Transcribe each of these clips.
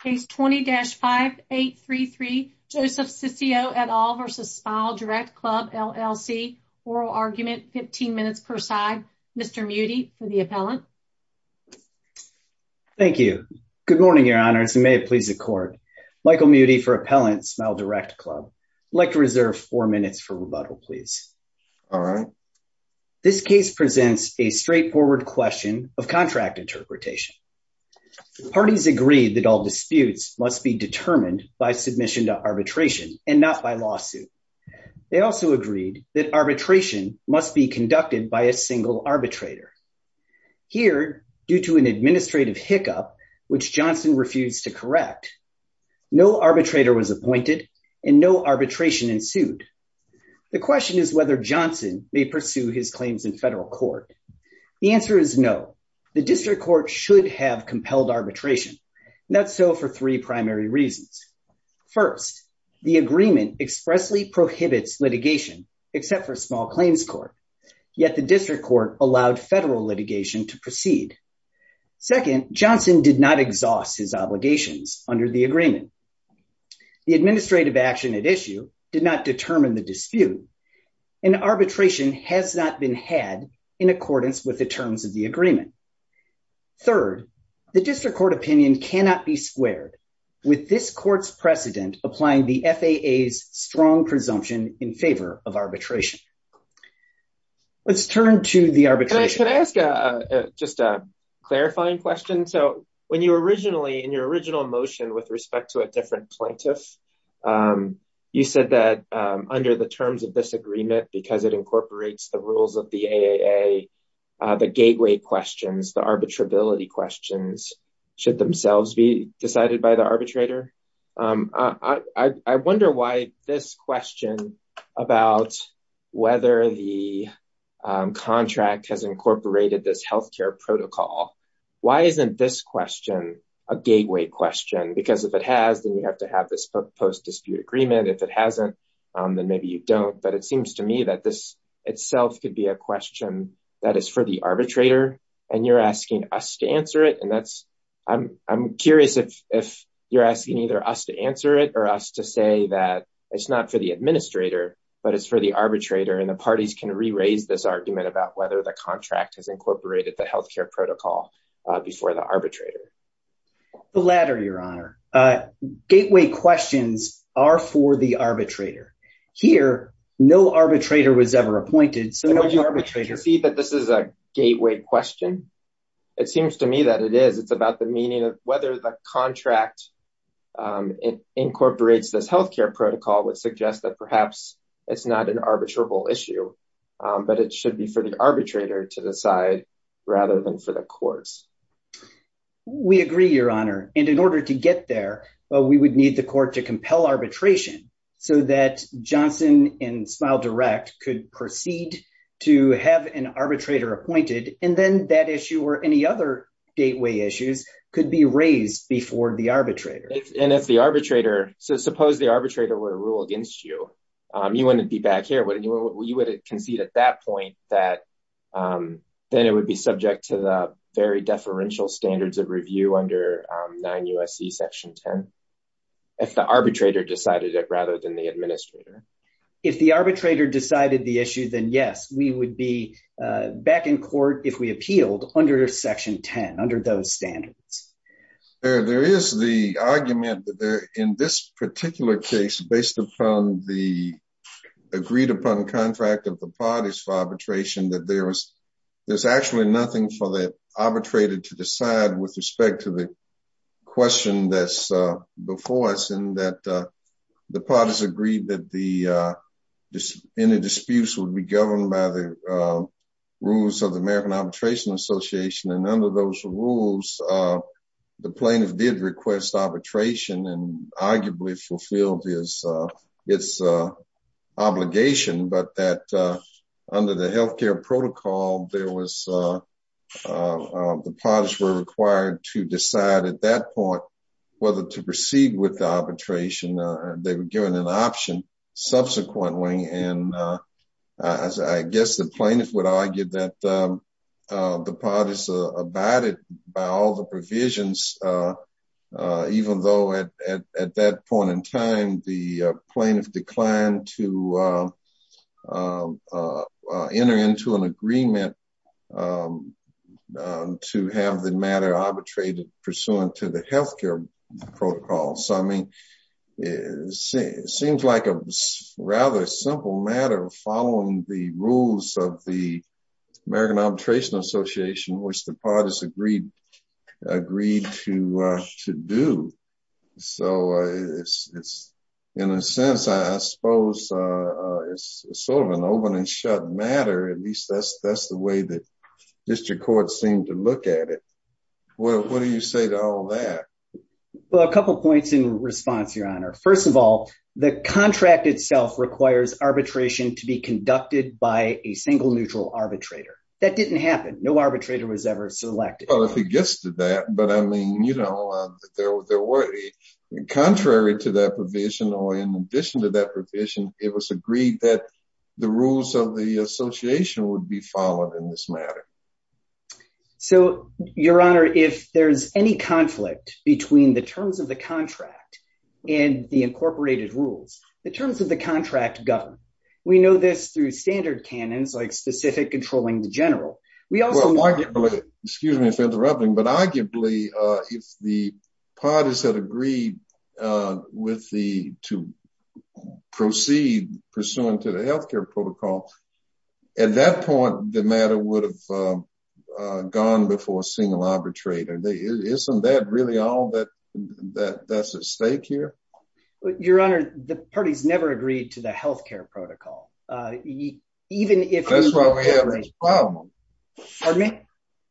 Case 20-5833 Joseph Ciccio et al. v. SmileDirectClub LLC Oral Argument 15 minutes per side. Mr. Mutey for the appellant. Thank you. Good morning, your honors, and may it please the court. Michael Mutey for Appellant SmileDirectClub. I'd like to reserve four minutes for rebuttal, please. All right. This case presents a straightforward question of contract interpretation. Parties agreed that all disputes must be determined by submission to arbitration and not by lawsuit. They also agreed that arbitration must be conducted by a single arbitrator. Here, due to an administrative hiccup, which Johnson refused to correct, no arbitrator was appointed and no arbitration ensued. The question is whether Johnson may pursue his claims in federal court. The answer is no. The district court should have compelled arbitration, not so for three primary reasons. First, the agreement expressly prohibits litigation, except for small claims court, yet the district court allowed federal litigation to proceed. Second, Johnson did not exhaust his obligations under the agreement. The administrative action at issue did not determine the dispute and arbitration has not been had in accordance with the terms of the agreement. Third, the district court opinion cannot be squared with this court's precedent applying the FAA's strong presumption in favor of arbitration. Let's turn to the arbitration. Can I ask just a clarifying question? So when you originally, in your original motion with respect to a different plaintiff, you said that under the terms of this agreement, because it incorporates the rules of the AAA, the gateway questions, the arbitrability questions, should themselves be decided by the arbitrator. I wonder why this question about whether the contract has incorporated this health care protocol, why isn't this question a gateway question? Because if it has, then you have to have this post dispute agreement. If it hasn't, then maybe you don't. But it seems to me that this itself could be a question that is for the arbitrator and you're asking us to answer it. I'm curious if you're asking either us to answer it or us to say that it's not for the administrator, but it's for the arbitrator and the parties can re-raise this argument about whether the contract has incorporated the health care protocol before the arbitrator. The latter, your honor. Gateway questions are for the arbitrator. Here, no arbitrator was ever appointed, so no arbitrator... Would you see that this is a gateway question? It seems to me that it is. It's about the meaning of whether the contract incorporates this health care protocol would suggest that perhaps it's not an arbitrable issue, but it should be for the arbitrator to decide rather than for the courts. We agree, your honor. And in order to get there, we would need the court to compel arbitration so that Johnson and Smile Direct could proceed to have an arbitrator appointed, and then that issue or any other gateway issues could be raised before the arbitrator. And if the arbitrator... So suppose the arbitrator were to rule against you, you wouldn't be back here, would you? You would concede at that point that then it would be subject to the very deferential standards of review under 9 U.S.C. Section 10, if the arbitrator decided it rather than the administrator. If the arbitrator decided the issue, then yes, we would be back in court if we appealed under Section 10, under those standards. There is the argument that in this case, based upon the agreed-upon contract of the parties for arbitration, that there's actually nothing for the arbitrator to decide with respect to the question that's before us, and that the parties agreed that any disputes would be governed by the rules of the American Arbitration Association. And under those rules, the plaintiff did request arbitration and arguably fulfilled its obligation, but that under the healthcare protocol, the parties were required to decide at that point whether to proceed with arbitration. They were given an option subsequently. And I guess the plaintiff would argue that the parties abided by all the rules of the American Arbitration Association. At that point in time, the plaintiff declined to enter into an agreement to have the matter arbitrated pursuant to the healthcare protocol. So, I mean, it seems like a rather simple matter following the rules of the American Arbitration Association. In a sense, I suppose it's sort of an open-and-shut matter, at least that's the way that district courts seem to look at it. What do you say to all that? Well, a couple points in response, Your Honor. First of all, the contract itself requires arbitration to be conducted by a single neutral arbitrator. That didn't happen. No arbitrator was ever selected. Well, if it gets to that, but I mean, you know, contrary to that provision or in addition to that provision, it was agreed that the rules of the association would be followed in this matter. So, Your Honor, if there's any conflict between the terms of the contract and the incorporated rules, the terms of the contract govern. We know this through standard canons like specific controlling the general. We also- Well, arguably, excuse me for interrupting, but arguably, if the parties had agreed to proceed pursuant to the healthcare protocol, at that point, the matter would have gone before a single arbitrator. Isn't that really all that's at stake here? Your Honor, the parties never agreed to the healthcare protocol, even if- That's why we have this problem. Pardon me?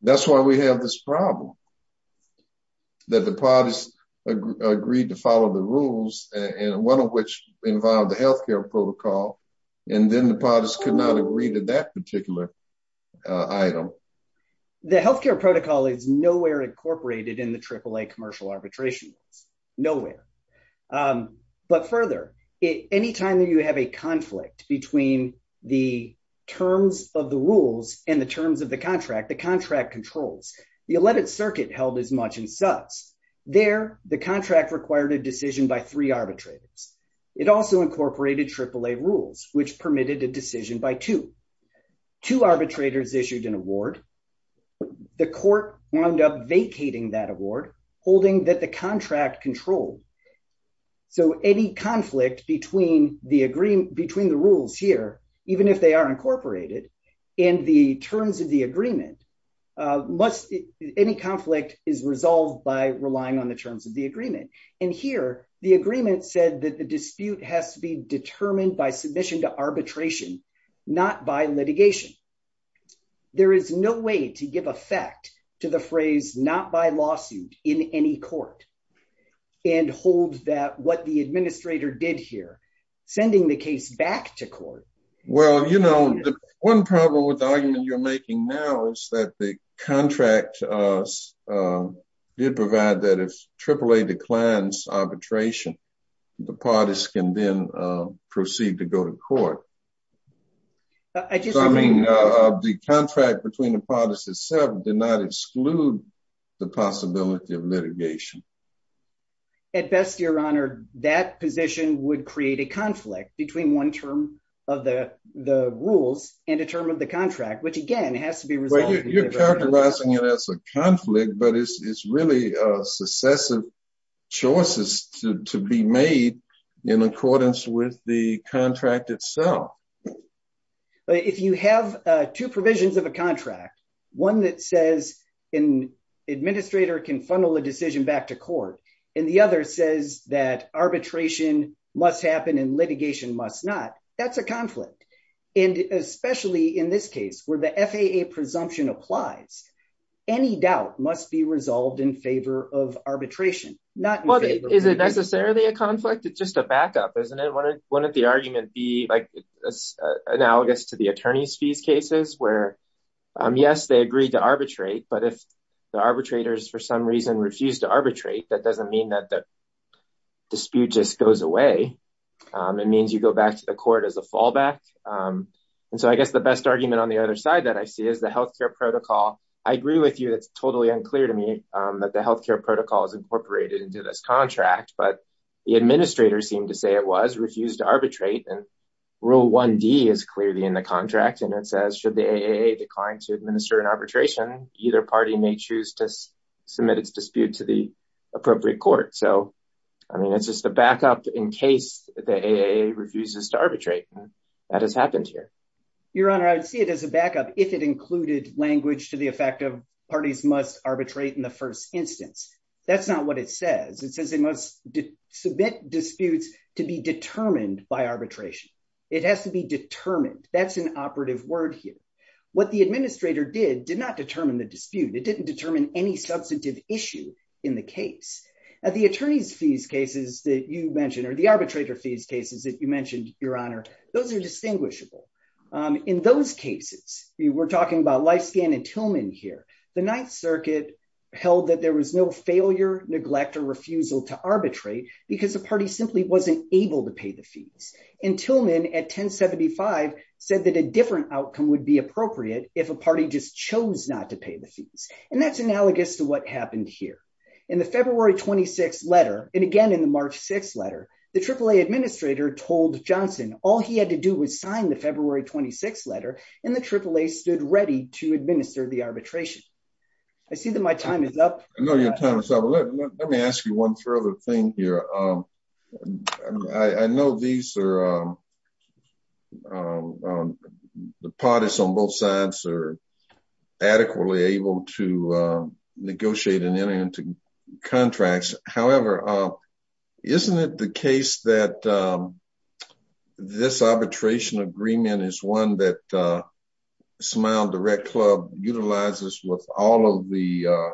That's why we have this problem, that the parties agreed to follow the rules, and one of which involved the healthcare protocol, and then the parties could not agree to that particular item. The healthcare protocol is nowhere incorporated in the AAA commercial arbitration. Nowhere. But further, any time that you have a conflict between the terms of the rules and the terms of the contract, the contract controls, you let it circuit held as much and such. There, the contract required a decision by three arbitrators. It also incorporated AAA rules, which permitted a decision by two. Two arbitrators issued an award. The court wound up vacating that contract control. Any conflict between the rules here, even if they are incorporated, in the terms of the agreement, any conflict is resolved by relying on the terms of the agreement. Here, the agreement said that the dispute has to be determined by submission to arbitration, not by litigation. There is no way to give effect to the phrase, not by lawsuit in any court. And hold that what the administrator did here, sending the case back to court. Well, you know, one problem with the argument you're making now is that the contract did provide that if AAA declines arbitration, the parties can then proceed to go to court. The contract between the parties itself did not exclude the possibility of litigation. At best, your honor, that position would create a conflict between one term of the rules and a term of the contract, which again has to be resolved. You're characterizing it as a conflict, but it's really successive choices to be made in accordance with the contract itself. If you have two provisions of a contract, one that says an administrator can funnel a decision back to court and the other says that arbitration must happen and litigation must not, that's a conflict. And especially in this case where the FAA presumption applies, any doubt must be resolved in favor of arbitration, not in favor of litigation. Is it necessarily a conflict? It's just a backup, isn't it? Wouldn't the argument be analogous to the attorney's fees cases where, yes, they agreed to arbitrate, but if the arbitrators for some reason refused to arbitrate, that doesn't mean that the dispute just goes away. It means you go back to the court as a fallback. And so I guess the best argument on the other side that I see is the healthcare protocol. I agree with you, it's totally unclear to me that the healthcare protocol is incorporated into this contract, but the administrator seemed to say it was refused to arbitrate and rule 1D is clearly in the contract and it says should the AAA decline to administer an arbitration, either party may choose to submit its dispute to the appropriate court. So, I mean, it's just a backup in case the AAA refuses to arbitrate. That has happened here. Your Honor, I would see it as a backup if it included language to the effect of parties must arbitrate in the first instance. That's not what it says. It says they must submit disputes to be determined by arbitration. It has to be determined. That's an operative word here. What the administrator did, did not determine the dispute. It didn't determine any substantive issue in the case. At the attorney's fees cases that you mentioned or the arbitrator fees cases that you mentioned, Your Honor, those are distinguishable. In those cases, we're talking about Lifescan and Tillman here. The Ninth Circuit held that there was no failure, neglect, or refusal to arbitrate because the party simply wasn't able to pay the fees. And Tillman at 1075 said that a different outcome would be appropriate if a party just chose not to pay the fees. And that's analogous to what happened here. In the February 26th letter, and again in the March 6th letter, the AAA administrator told Johnson all he had to do was sign the February 26th letter and the AAA stood ready to administer the arbitration. I see that my time is up. I know your time is up. Let me ask you one further thing here. I know the parties on both sides are adequately able to negotiate and enter into contracts. However, isn't it the case that this arbitration agreement is one that SmileDirectClub utilizes with all of the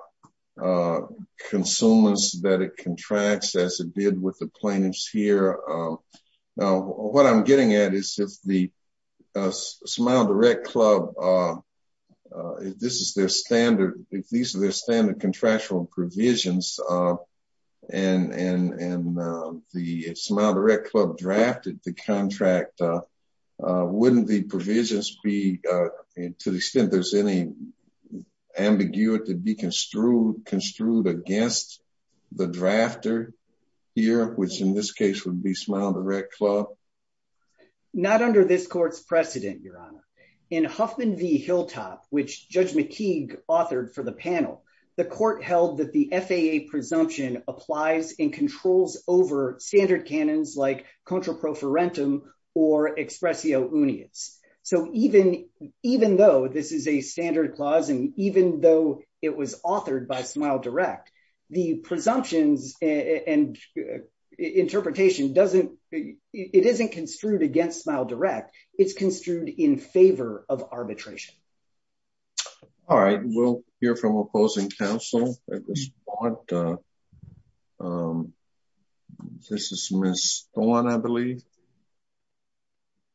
consumers that it contracts as it did with the plaintiffs here? Now, what I'm getting at is if the SmileDirectClub, if this is their standard, if these are their standard contractual provisions and the SmileDirectClub drafted the contract, wouldn't the provisions be, to the extent there's any ambiguity, be construed against the drafter here, which in this case would be SmileDirectClub? Not under this court's precedent, Your Honor. In Huffman v. Hilltop, which Judge McKeague authored for the panel, the court held that the FAA presumption applies and controls over standard canons like contraprofarentum or expressio unius. So even though this is a standard clause and even though it was authored by SmileDirect, the presumptions and interpretation it isn't construed against SmileDirect, it's construed in favor of arbitration. All right, we'll hear from opposing counsel at this point. This is Ms. Thorne, I believe.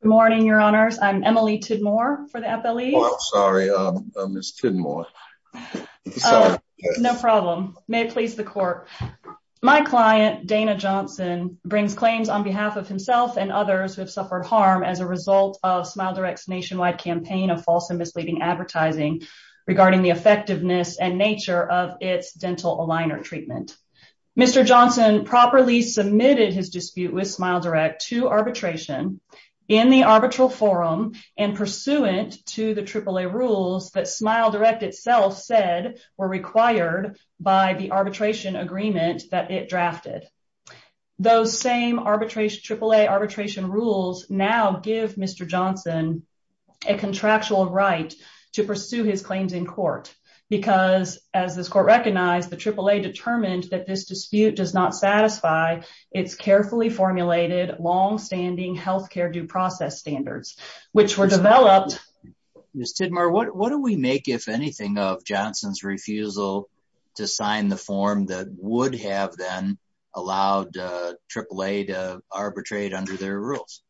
Good morning, Your Honors. I'm Emily Tidmore for the FLE. Oh, I'm sorry, Ms. Tidmore. No problem. May it please the court. My client, Dana Johnson, brings claims on behalf of himself and others who have suffered harm as a result of SmileDirect's nationwide campaign of false advertising regarding the effectiveness and nature of its dental aligner treatment. Mr. Johnson properly submitted his dispute with SmileDirect to arbitration in the arbitral forum and pursuant to the AAA rules that SmileDirect itself said were required by the arbitration agreement that it drafted. Those same AAA arbitration rules now give Mr. Johnson a contractual right to pursue his claims in court because as this court recognized, the AAA determined that this dispute does not satisfy its carefully formulated, long-standing health care due process standards which were developed. Ms. Tidmore, what do we make, if anything, of Johnson's refusal to sign the form that would have then allowed AAA to arbitrate under their rules?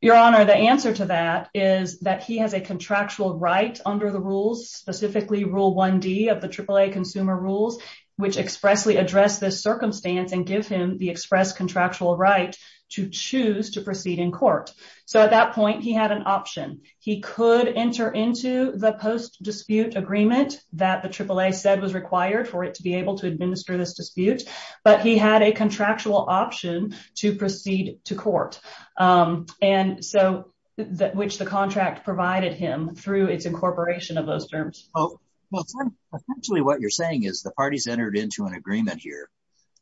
Your Honor, the answer to that is that he has a contractual right under the rules, specifically Rule 1D of the AAA Consumer Rules, which expressly address this circumstance and give him the expressed contractual right to choose to proceed in court. So at that point, he had an option. He could enter into the post-dispute agreement that the AAA said was required for it to be able to administer this dispute, but he had a contractual option to and so that which the contract provided him through its incorporation of those terms. Essentially, what you're saying is the parties entered into an agreement here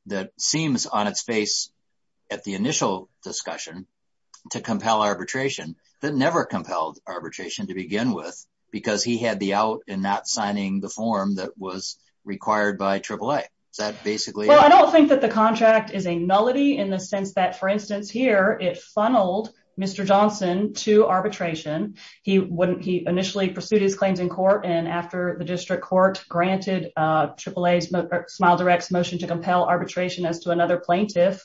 that seems on its face at the initial discussion to compel arbitration that never compelled arbitration to begin with because he had the out and not signing the form that was required by AAA. Is that basically... Well, I don't think that the contract is a nullity in the sense that, for instance, here it funneled Mr. Johnson to arbitration. He initially pursued his claims in court and after the district court granted AAA SmileDirect's motion to compel arbitration as to another plaintiff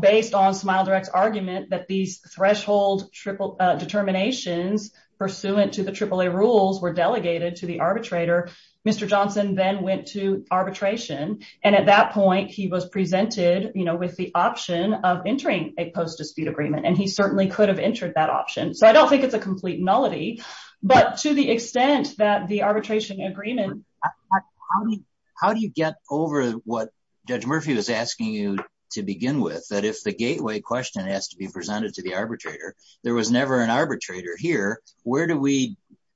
based on SmileDirect's argument that these threshold determinations pursuant to the AAA rules were delegated to the arbitrator. Mr. Johnson then went to arbitration and at that point he was presented with the option of entering a post-dispute agreement and he certainly could have entered that option. So I don't think it's a complete nullity, but to the extent that the arbitration agreement... How do you get over what Judge Murphy was asking you to begin with? That if the gateway question has to be presented to the arbitrator, there was never an arbitrator here.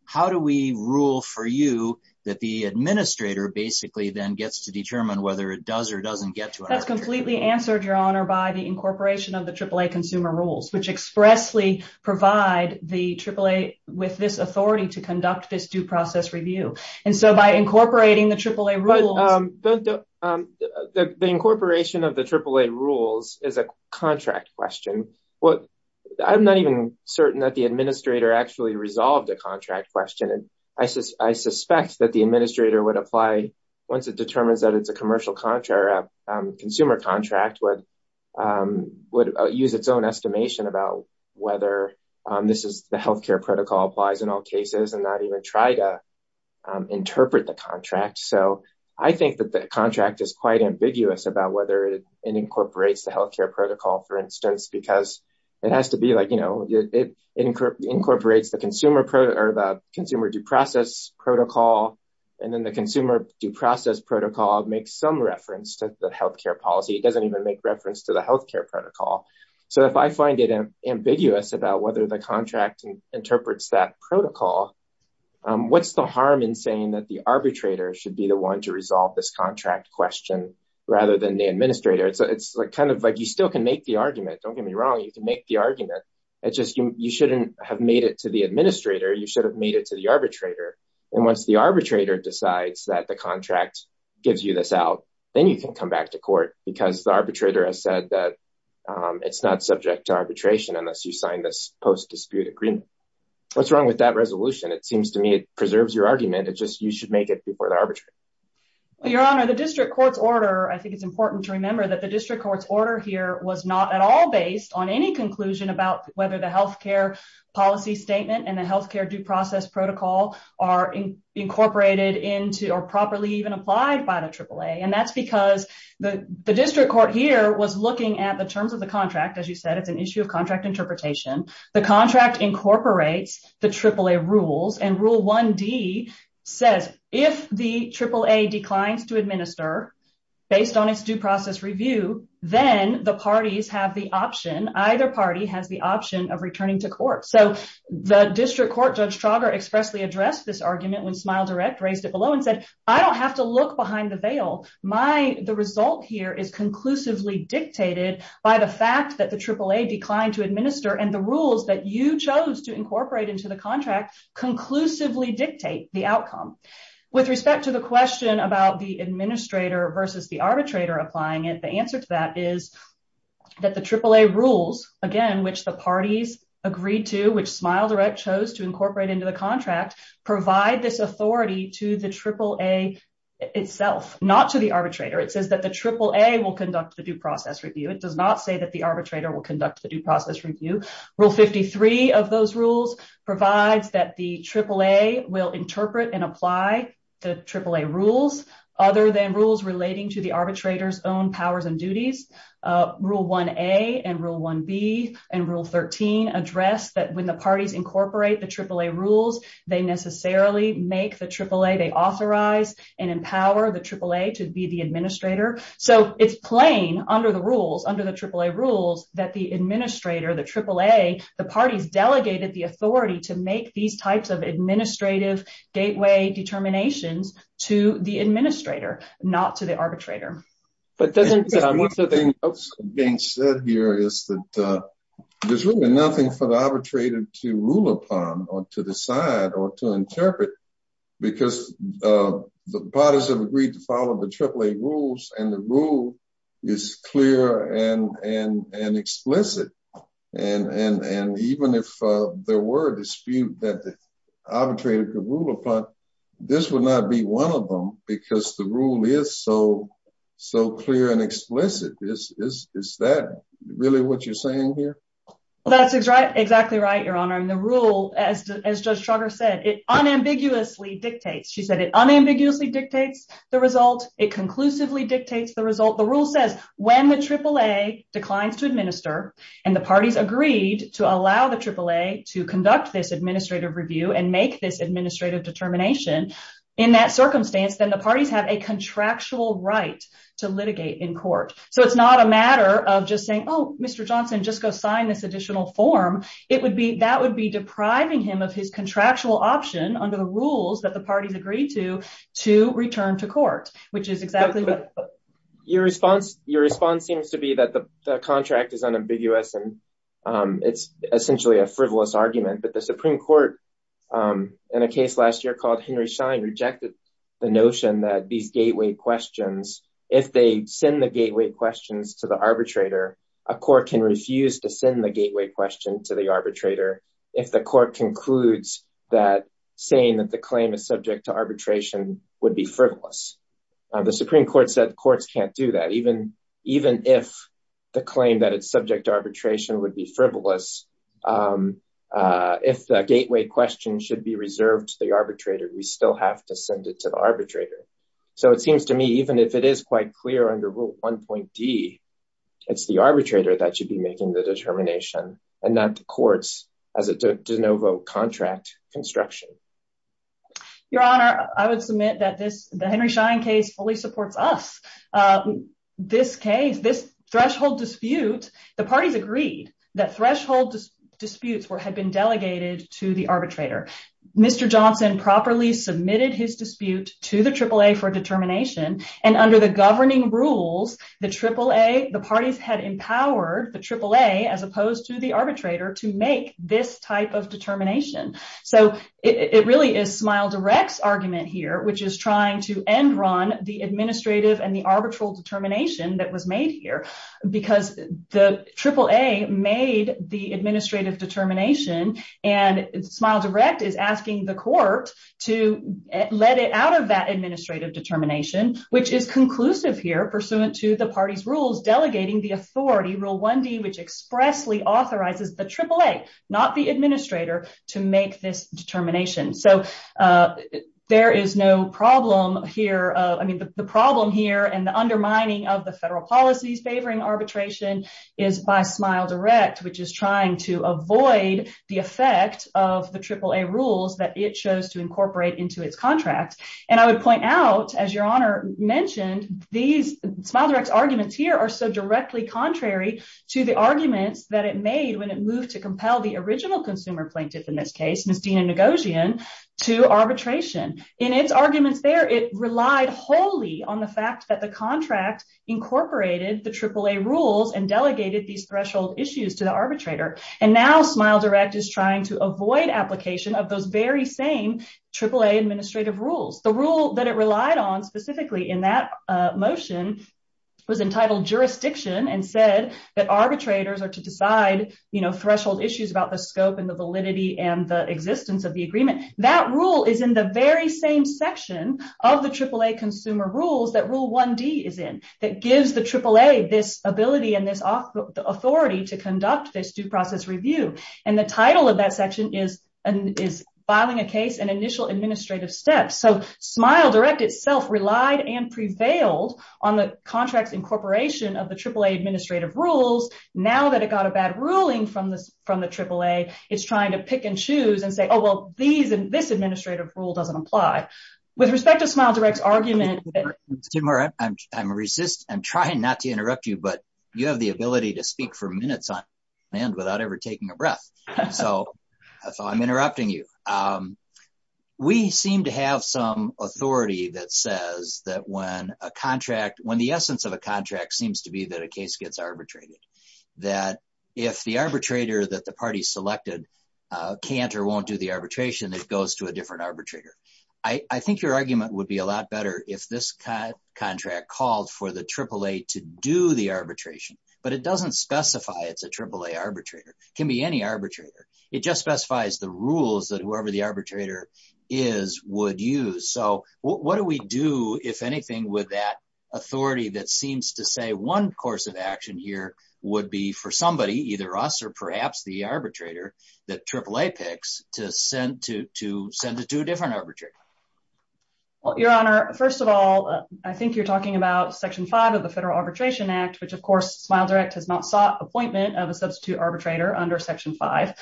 How do we rule for you that the administrator basically then gets to determine whether it does or doesn't get to arbitration? That's completely answered, Your Honor, by the incorporation of the AAA Consumer Rules, which expressly provide the AAA with this authority to conduct this due process review. And so by incorporating the AAA rules... But the incorporation of the AAA rules is a contract question. I'm not even certain that the administrator actually resolved a contract question. I suspect that the administrator would apply once it determines that it's a commercial contract or a consumer contract, would use its own estimation about whether the health care protocol applies in all cases and not even try to interpret the contract. So I think that the contract is quite ambiguous about whether it incorporates the health care protocol, for consumer due process protocol, and then the consumer due process protocol makes some reference to the health care policy. It doesn't even make reference to the health care protocol. So if I find it ambiguous about whether the contract interprets that protocol, what's the harm in saying that the arbitrator should be the one to resolve this contract question rather than the administrator? It's kind of like you still can make the argument. Don't get me wrong, you can make the argument. It's just you shouldn't have made it to the administrator. You should have made it to the arbitrator. And once the arbitrator decides that the contract gives you this out, then you can come back to court because the arbitrator has said that it's not subject to arbitration unless you sign this post-dispute agreement. What's wrong with that resolution? It seems to me it preserves your argument. It's just you should make it before the arbitrator. Your honor, the district court's order, I think it's important to remember that the district court's order here was not at all based on any conclusion about whether the health care policy statement and the health care due process protocol are incorporated into or properly even applied by the AAA. And that's because the district court here was looking at the terms of the contract. As you said, it's an issue of contract interpretation. The contract incorporates the AAA rules. And Rule 1D says if the AAA declines to administer based on its due process review, then the parties have the option, either district court Judge Trauger expressly addressed this argument when Smile Direct raised it below and said, I don't have to look behind the veil. The result here is conclusively dictated by the fact that the AAA declined to administer and the rules that you chose to incorporate into the contract conclusively dictate the outcome. With respect to the question about the administrator versus the arbitrator applying it, the answer to that is that the AAA rules, again, which the incorporate into the contract, provide this authority to the AAA itself, not to the arbitrator. It says that the AAA will conduct the due process review. It does not say that the arbitrator will conduct the due process review. Rule 53 of those rules provides that the AAA will interpret and apply the AAA rules other than rules relating to the arbitrator's own powers and duties. Rule 1A and Rule 1B and Rule 13 address that when the parties incorporate the AAA rules, they necessarily make the AAA, they authorize and empower the AAA to be the administrator. So it's plain under the rules, under the AAA rules, that the administrator, the AAA, the parties delegated the authority to make these types of administrative gateway determinations to the administrator, not to the arbitrator. One thing that's being said here is that there's really nothing for the arbitrator to rule upon or to decide or to interpret because the parties have agreed to follow the AAA rules and the rule is clear and explicit. And even if there were a dispute that the arbitrator could rule upon, this would not be one of them because the rule is so clear and explicit. Is that really what you're saying here? That's exactly right, Your Honor. And the rule, as Judge Trugger said, it unambiguously dictates. She said it unambiguously dictates the result. It conclusively dictates the result. The rule says when the AAA declines to administer and the parties agreed to allow the AAA to conduct this administrative review and make this administrative determination in that circumstance, then the parties have a contractual right to litigate in court. So it's not a matter of just saying, oh, Mr. Johnson, just go sign this additional form. It would be, that would be depriving him of his contractual option under the rules that the parties agreed to, to return to court, which is exactly what. Your response, your response seems to be that the contract is unambiguous and it's essentially a frivolous argument. But the Supreme Court in a case last year called Henry Schein rejected the notion that these gateway questions, if they send the gateway questions to the arbitrator, a court can refuse to send the gateway question to the arbitrator if the court concludes that saying that the claim is subject to arbitration would be frivolous. The Supreme Court said courts can't do that. Even, even if the claim that it's subject to arbitration would be frivolous, if the gateway question should be reserved to the arbitrator, we still have to send it to the arbitrator. So it seems to me, even if it is quite clear under rule 1.D, it's the arbitrator that should be making the determination and not the courts as a de novo contract construction. Your Honor, I would submit that this, the Henry Schein case fully supports us. This case, this threshold dispute, the parties agreed that threshold disputes were, had been delegated to the arbitrator. Mr. Johnson properly submitted his dispute to the AAA for determination and under the governing rules, the AAA, the parties had empowered the AAA, as opposed to the arbitrator to make this type of determination. So it really is SmileDirect's argument here, which is trying to end run the administrative and the arbitral determination that was made here because the AAA made the administrative determination and SmileDirect is asking the court to let it out of that administrative determination, which is conclusive here pursuant to the party's rules, delegating the authority rule 1.D, which expressly authorizes the AAA, not the administrator to make this determination. So there is no problem here. I mean, the problem here and the undermining of the federal policies favoring arbitration is by SmileDirect, which is trying to avoid the effect of the AAA rules that it chose to incorporate into its contract. And I would point out, as Your Honor mentioned, these SmileDirect's arguments here are so directly contrary to the arguments that it made when it moved to compel the original consumer plaintiff in this case, Ms. Dina Nagosian, to arbitration. In its arguments there, it relied wholly on the fact that the contract incorporated the AAA rules and delegated these threshold issues to the arbitrator. And now SmileDirect is trying to AAA administrative rules. The rule that it relied on specifically in that motion was entitled jurisdiction and said that arbitrators are to decide threshold issues about the scope and the validity and the existence of the agreement. That rule is in the very same section of the AAA consumer rules that rule 1.D is in, that gives the AAA this ability and this authority to conduct this due process review. And the title of that section is filing a case and initial administrative steps. So SmileDirect itself relied and prevailed on the contract's incorporation of the AAA administrative rules. Now that it got a bad ruling from the AAA, it's trying to pick and choose and say, oh, well, this administrative rule doesn't apply. With respect to SmileDirect's argument... Timur, I'm trying not to interrupt you, but you have the ability to speak for minutes on end without ever taking a breath. So I'm interrupting you. We seem to have some authority that says that when a contract, when the essence of a contract seems to be that a case gets arbitrated, that if the arbitrator that the party selected can't or won't do the arbitration, it goes to a different arbitrator. I think your argument would be a lot better if this contract called for the AAA to do the arbitration, but it doesn't specify it's a AAA arbitrator. It can be any arbitrator. It just specifies the rules that whoever the arbitrator is would use. So what do we do, if anything, with that authority that seems to say one course of action here would be for somebody, either us or perhaps the arbitrator that AAA picks, to send it to a different of the Federal Arbitration Act, which, of course, SmileDirect has not sought appointment of a substitute arbitrator under Section 5.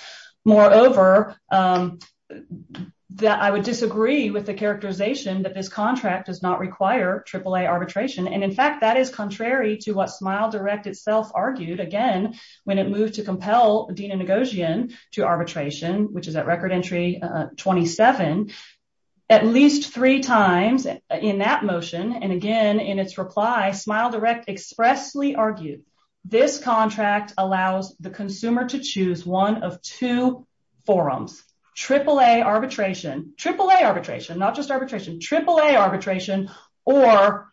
Moreover, I would disagree with the characterization that this contract does not require AAA arbitration. And in fact, that is contrary to what SmileDirect itself argued, again, when it moved to compel Dina Ngozian to arbitration, which is at record entry 27, at least three times in that motion. And again, in its reply, SmileDirect expressly argued this contract allows the consumer to choose one of two forums, AAA arbitration, AAA arbitration, not just arbitration, AAA arbitration, or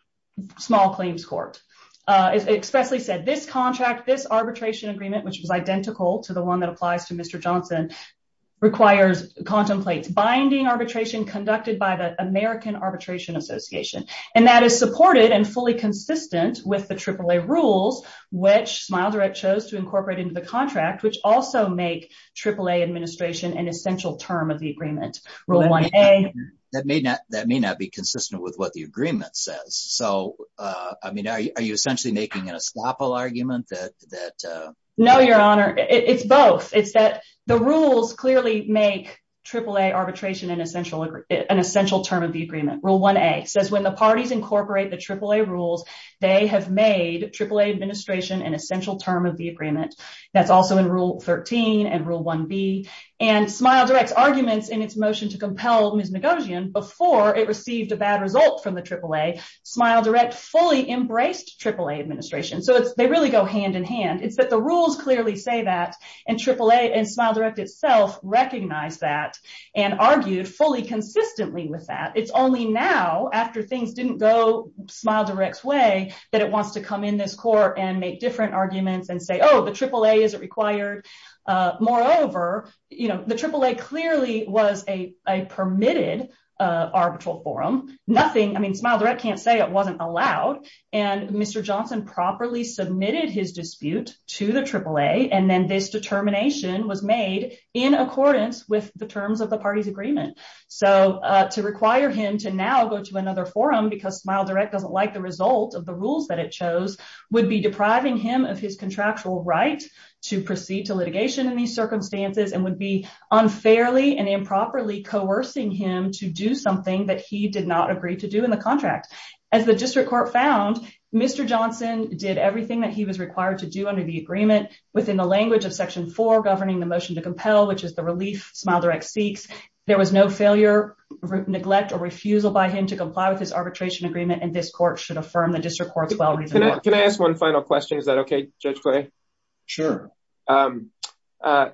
small claims court. It expressly said this contract, this arbitration agreement, which was identical to the one that applies to binding arbitration conducted by the American Arbitration Association. And that is supported and fully consistent with the AAA rules, which SmileDirect chose to incorporate into the contract, which also make AAA administration an essential term of the agreement, Rule 1A. That may not be consistent with what the agreement says. So, I mean, are you essentially making an estoppel argument? No, Your Honor. It's both. It's that the rules clearly make AAA arbitration an essential term of the agreement. Rule 1A says when the parties incorporate the AAA rules, they have made AAA administration an essential term of the agreement. That's also in Rule 13 and Rule 1B. And SmileDirect's arguments in its motion to compel Ms. Ngozian before it received a bad result from the AAA, SmileDirect fully embraced AAA administration. So, they really go hand in hand. It's that the rules clearly say that, and AAA and SmileDirect itself recognize that and argued fully consistently with that. It's only now, after things didn't go SmileDirect's way, that it wants to come in this court and make different arguments and say, oh, the AAA isn't required. Moreover, the AAA clearly was a permitted arbitral forum. Nothing, I mean, SmileDirect can't say it wasn't allowed. And Mr. Johnson properly submitted his dispute to the AAA, and then this determination was made in accordance with the terms of the party's agreement. So, to require him to now go to another forum because SmileDirect doesn't like the result of the rules that it chose would be depriving him of his contractual right to proceed to litigation in these circumstances and would be unfairly and improperly coercing him to do something that he did not agree to do in the contract. As the district court found, Mr. Johnson did everything that he was required to do under the agreement within the language of Section 4 governing the motion to compel, which is the relief SmileDirect seeks. There was no failure, neglect, or refusal by him to comply with his arbitration agreement, and this court should affirm the district court's well-reasoned work. Can I ask one final question? Is that okay, Judge Clay? Sure. I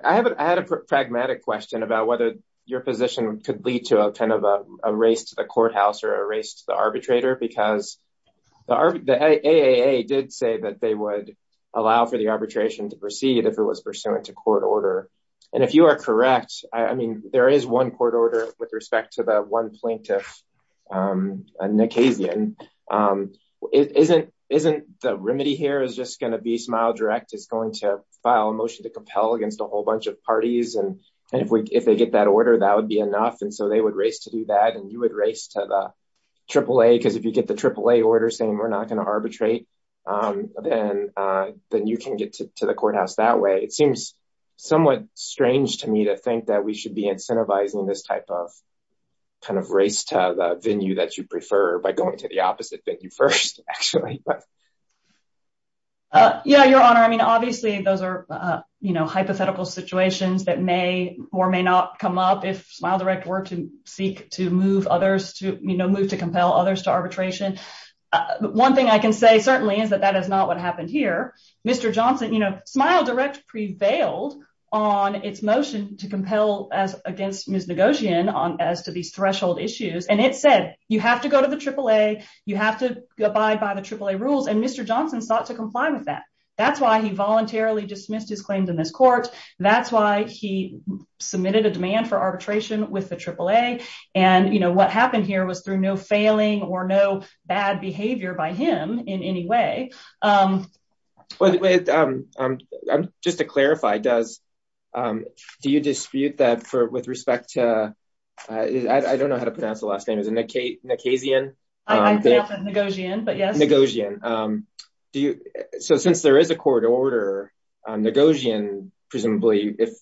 had a pragmatic question about whether your position could lead to a kind of a race to the courthouse or a race to because the AAA did say that they would allow for the arbitration to proceed if it was pursuant to court order. And if you are correct, I mean, there is one court order with respect to the one plaintiff, Nick Hazian. Isn't the remedy here is just going to be SmileDirect is going to file a motion to compel against a whole bunch of parties, and if they get that order, that would be enough, so they would race to do that, and you would race to the AAA, because if you get the AAA order saying we're not going to arbitrate, then you can get to the courthouse that way. It seems somewhat strange to me to think that we should be incentivizing this type of kind of race to the venue that you prefer by going to the opposite venue first, actually. Yeah, Your Honor, I mean, obviously, those are hypothetical situations that may or may not come up if SmileDirect were to seek to move others to, you know, move to compel others to arbitration. One thing I can say certainly is that that is not what happened here. Mr. Johnson, you know, SmileDirect prevailed on its motion to compel as against Ms. Nagosian on as to these threshold issues, and it said you have to go to the AAA, you have to abide by the AAA rules, and Mr. Johnson sought to comply with that. That's why he voluntarily dismissed his claims in this court. That's why he submitted a demand for arbitration with the AAA. And, you know, what happened here was through no failing or no bad behavior by him in any way. Just to clarify, do you dispute that for with respect to, I don't know how to pronounce the last name, is it Nagosian? I say often Nagosian, but yes. Nagosian. So, since there is a court order, Nagosian, presumably, if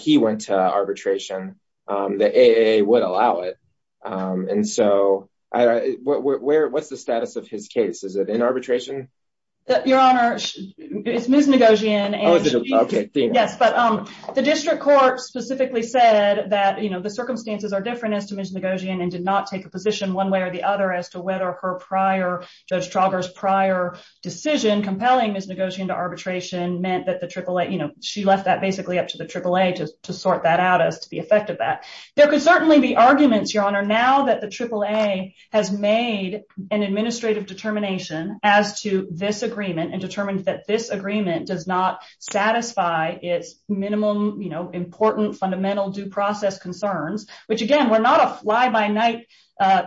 he went to arbitration, the AAA would allow it. And so, what's the status of his case? Is it in arbitration? Your Honor, it's Ms. Nagosian. Yes, but the district court specifically said that, you know, the circumstances are different and did not take a position one way or the other as to whether her prior, Judge Trauger's prior decision compelling Ms. Nagosian to arbitration meant that the AAA, you know, she left that basically up to the AAA to sort that out as to the effect of that. There could certainly be arguments, Your Honor, now that the AAA has made an administrative determination as to this agreement and determined that this agreement does not satisfy its minimum, you know, important, fundamental due process concerns, which again, we're not a fly-by-night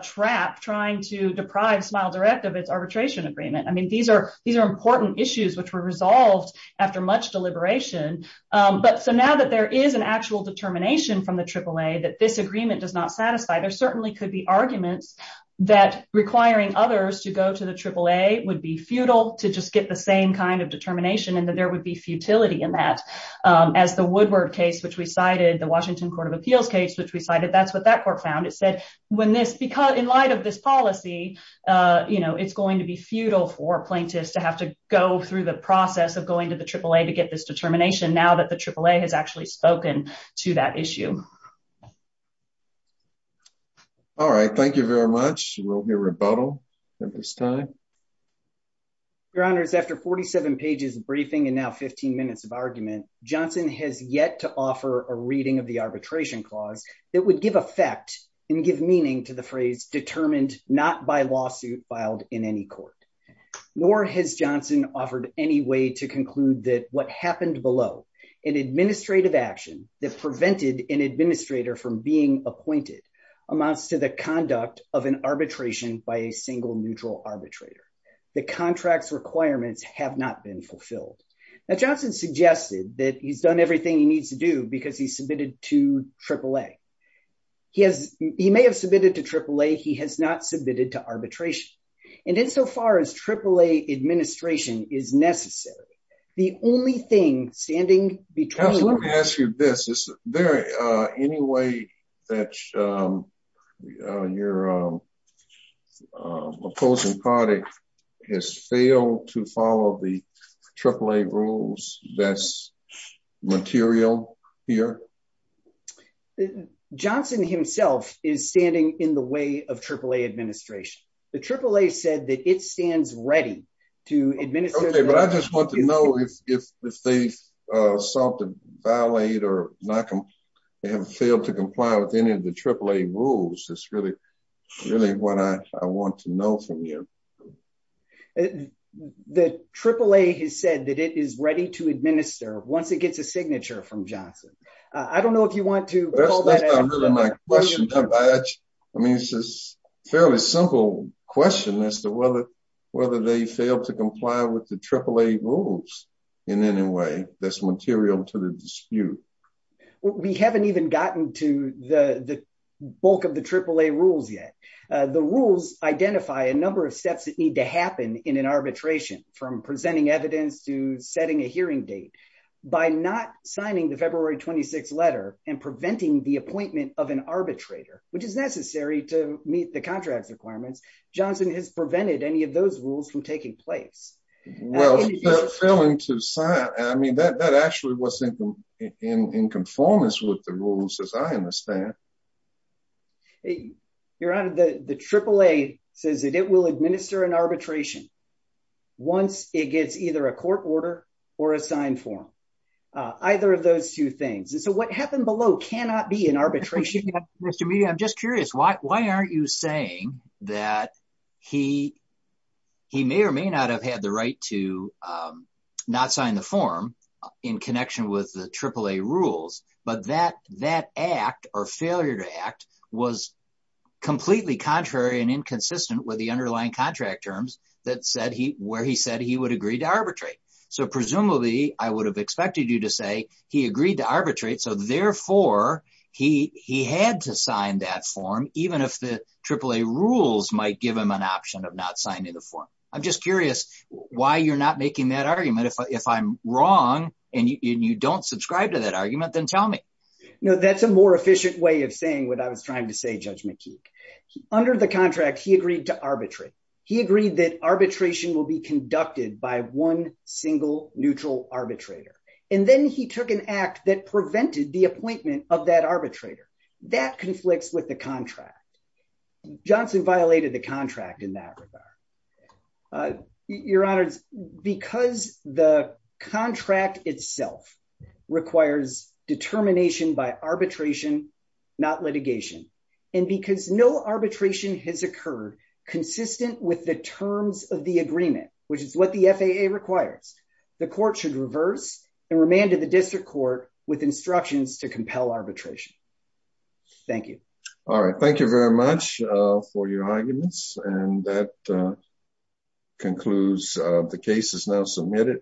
trap trying to deprive Smile Direct of its arbitration agreement. I mean, these are important issues which were resolved after much deliberation. But so now that there is an actual determination from the AAA that this agreement does not satisfy, there certainly could be arguments that requiring others to go to the AAA would be futile to just get the same kind of determination and that there would be futility in as the Woodward case, which we cited, the Washington Court of Appeals case, which we cited, that's what that court found. It said when this, because in light of this policy, you know, it's going to be futile for plaintiffs to have to go through the process of going to the AAA to get this determination now that the AAA has actually spoken to that issue. All right, thank you very much. We'll hear rebuttal at this time. Your Honors, after 47 pages of briefing and now 15 minutes of argument, Johnson has yet to offer a reading of the arbitration clause that would give effect and give meaning to the phrase determined not by lawsuit filed in any court. Nor has Johnson offered any way to conclude that what happened below, an administrative action that prevented an administrator from being appointed amounts to the conduct of an arbitration by a single neutral arbitrator. The contract's requirements have not been fulfilled. Now, Johnson suggested that he's done everything he needs to do because he submitted to AAA. He has, he may have submitted to AAA, he has not submitted to arbitration. And insofar as AAA administration is necessary, the only thing standing between- Absolutely, let me ask you this, is there any way that your opposing party has failed to follow the AAA rules that's material here? Johnson himself is standing in the way of AAA administration. The AAA said that it stands ready to administer- Okay, but I just want to know if they sought to violate or have failed to comply with any of the AAA rules. That's really what I want to know from you. The AAA has said that it is ready to administer once it gets a signature from Johnson. I don't know if you want to- That's not really my question. I mean, it's just a fairly simple question as to whether they failed to comply with the AAA rules in any way that's material to the dispute. We haven't even gotten to the bulk of the AAA rules yet. The rules identify a number of steps that need to happen in an arbitration, from presenting evidence to setting a hearing date. By not signing the February 26th letter and preventing the appointment of an arbitrator, which is necessary to meet the contract's failing to sign. I mean, that actually was in conformance with the rules, as I understand. Your Honor, the AAA says that it will administer an arbitration once it gets either a court order or a signed form, either of those two things. What happened below cannot be an arbitration. Mr. Mead, I'm just curious. Why aren't you saying that he may or may not have had the right to not sign the form in connection with the AAA rules, but that act or failure to act was completely contrary and inconsistent with the underlying contract terms where he said he would agree to arbitrate. Presumably, I would have expected you to say he agreed to arbitrate. Therefore, he had to sign that form, even if the AAA rules might give him an option of not in the form. I'm just curious why you're not making that argument. If I'm wrong, and you don't subscribe to that argument, then tell me. That's a more efficient way of saying what I was trying to say, Judge McKeek. Under the contract, he agreed to arbitrate. He agreed that arbitration will be conducted by one single neutral arbitrator. Then he took an act that prevented the appointment of that arbitrator. Your Honor, because the contract itself requires determination by arbitration, not litigation, and because no arbitration has occurred consistent with the terms of the agreement, which is what the FAA requires, the court should reverse and remand to the district court with instructions to compel arbitration. Thank you. All right. Thank you very much for your arguments. That concludes the case. It's now submitted.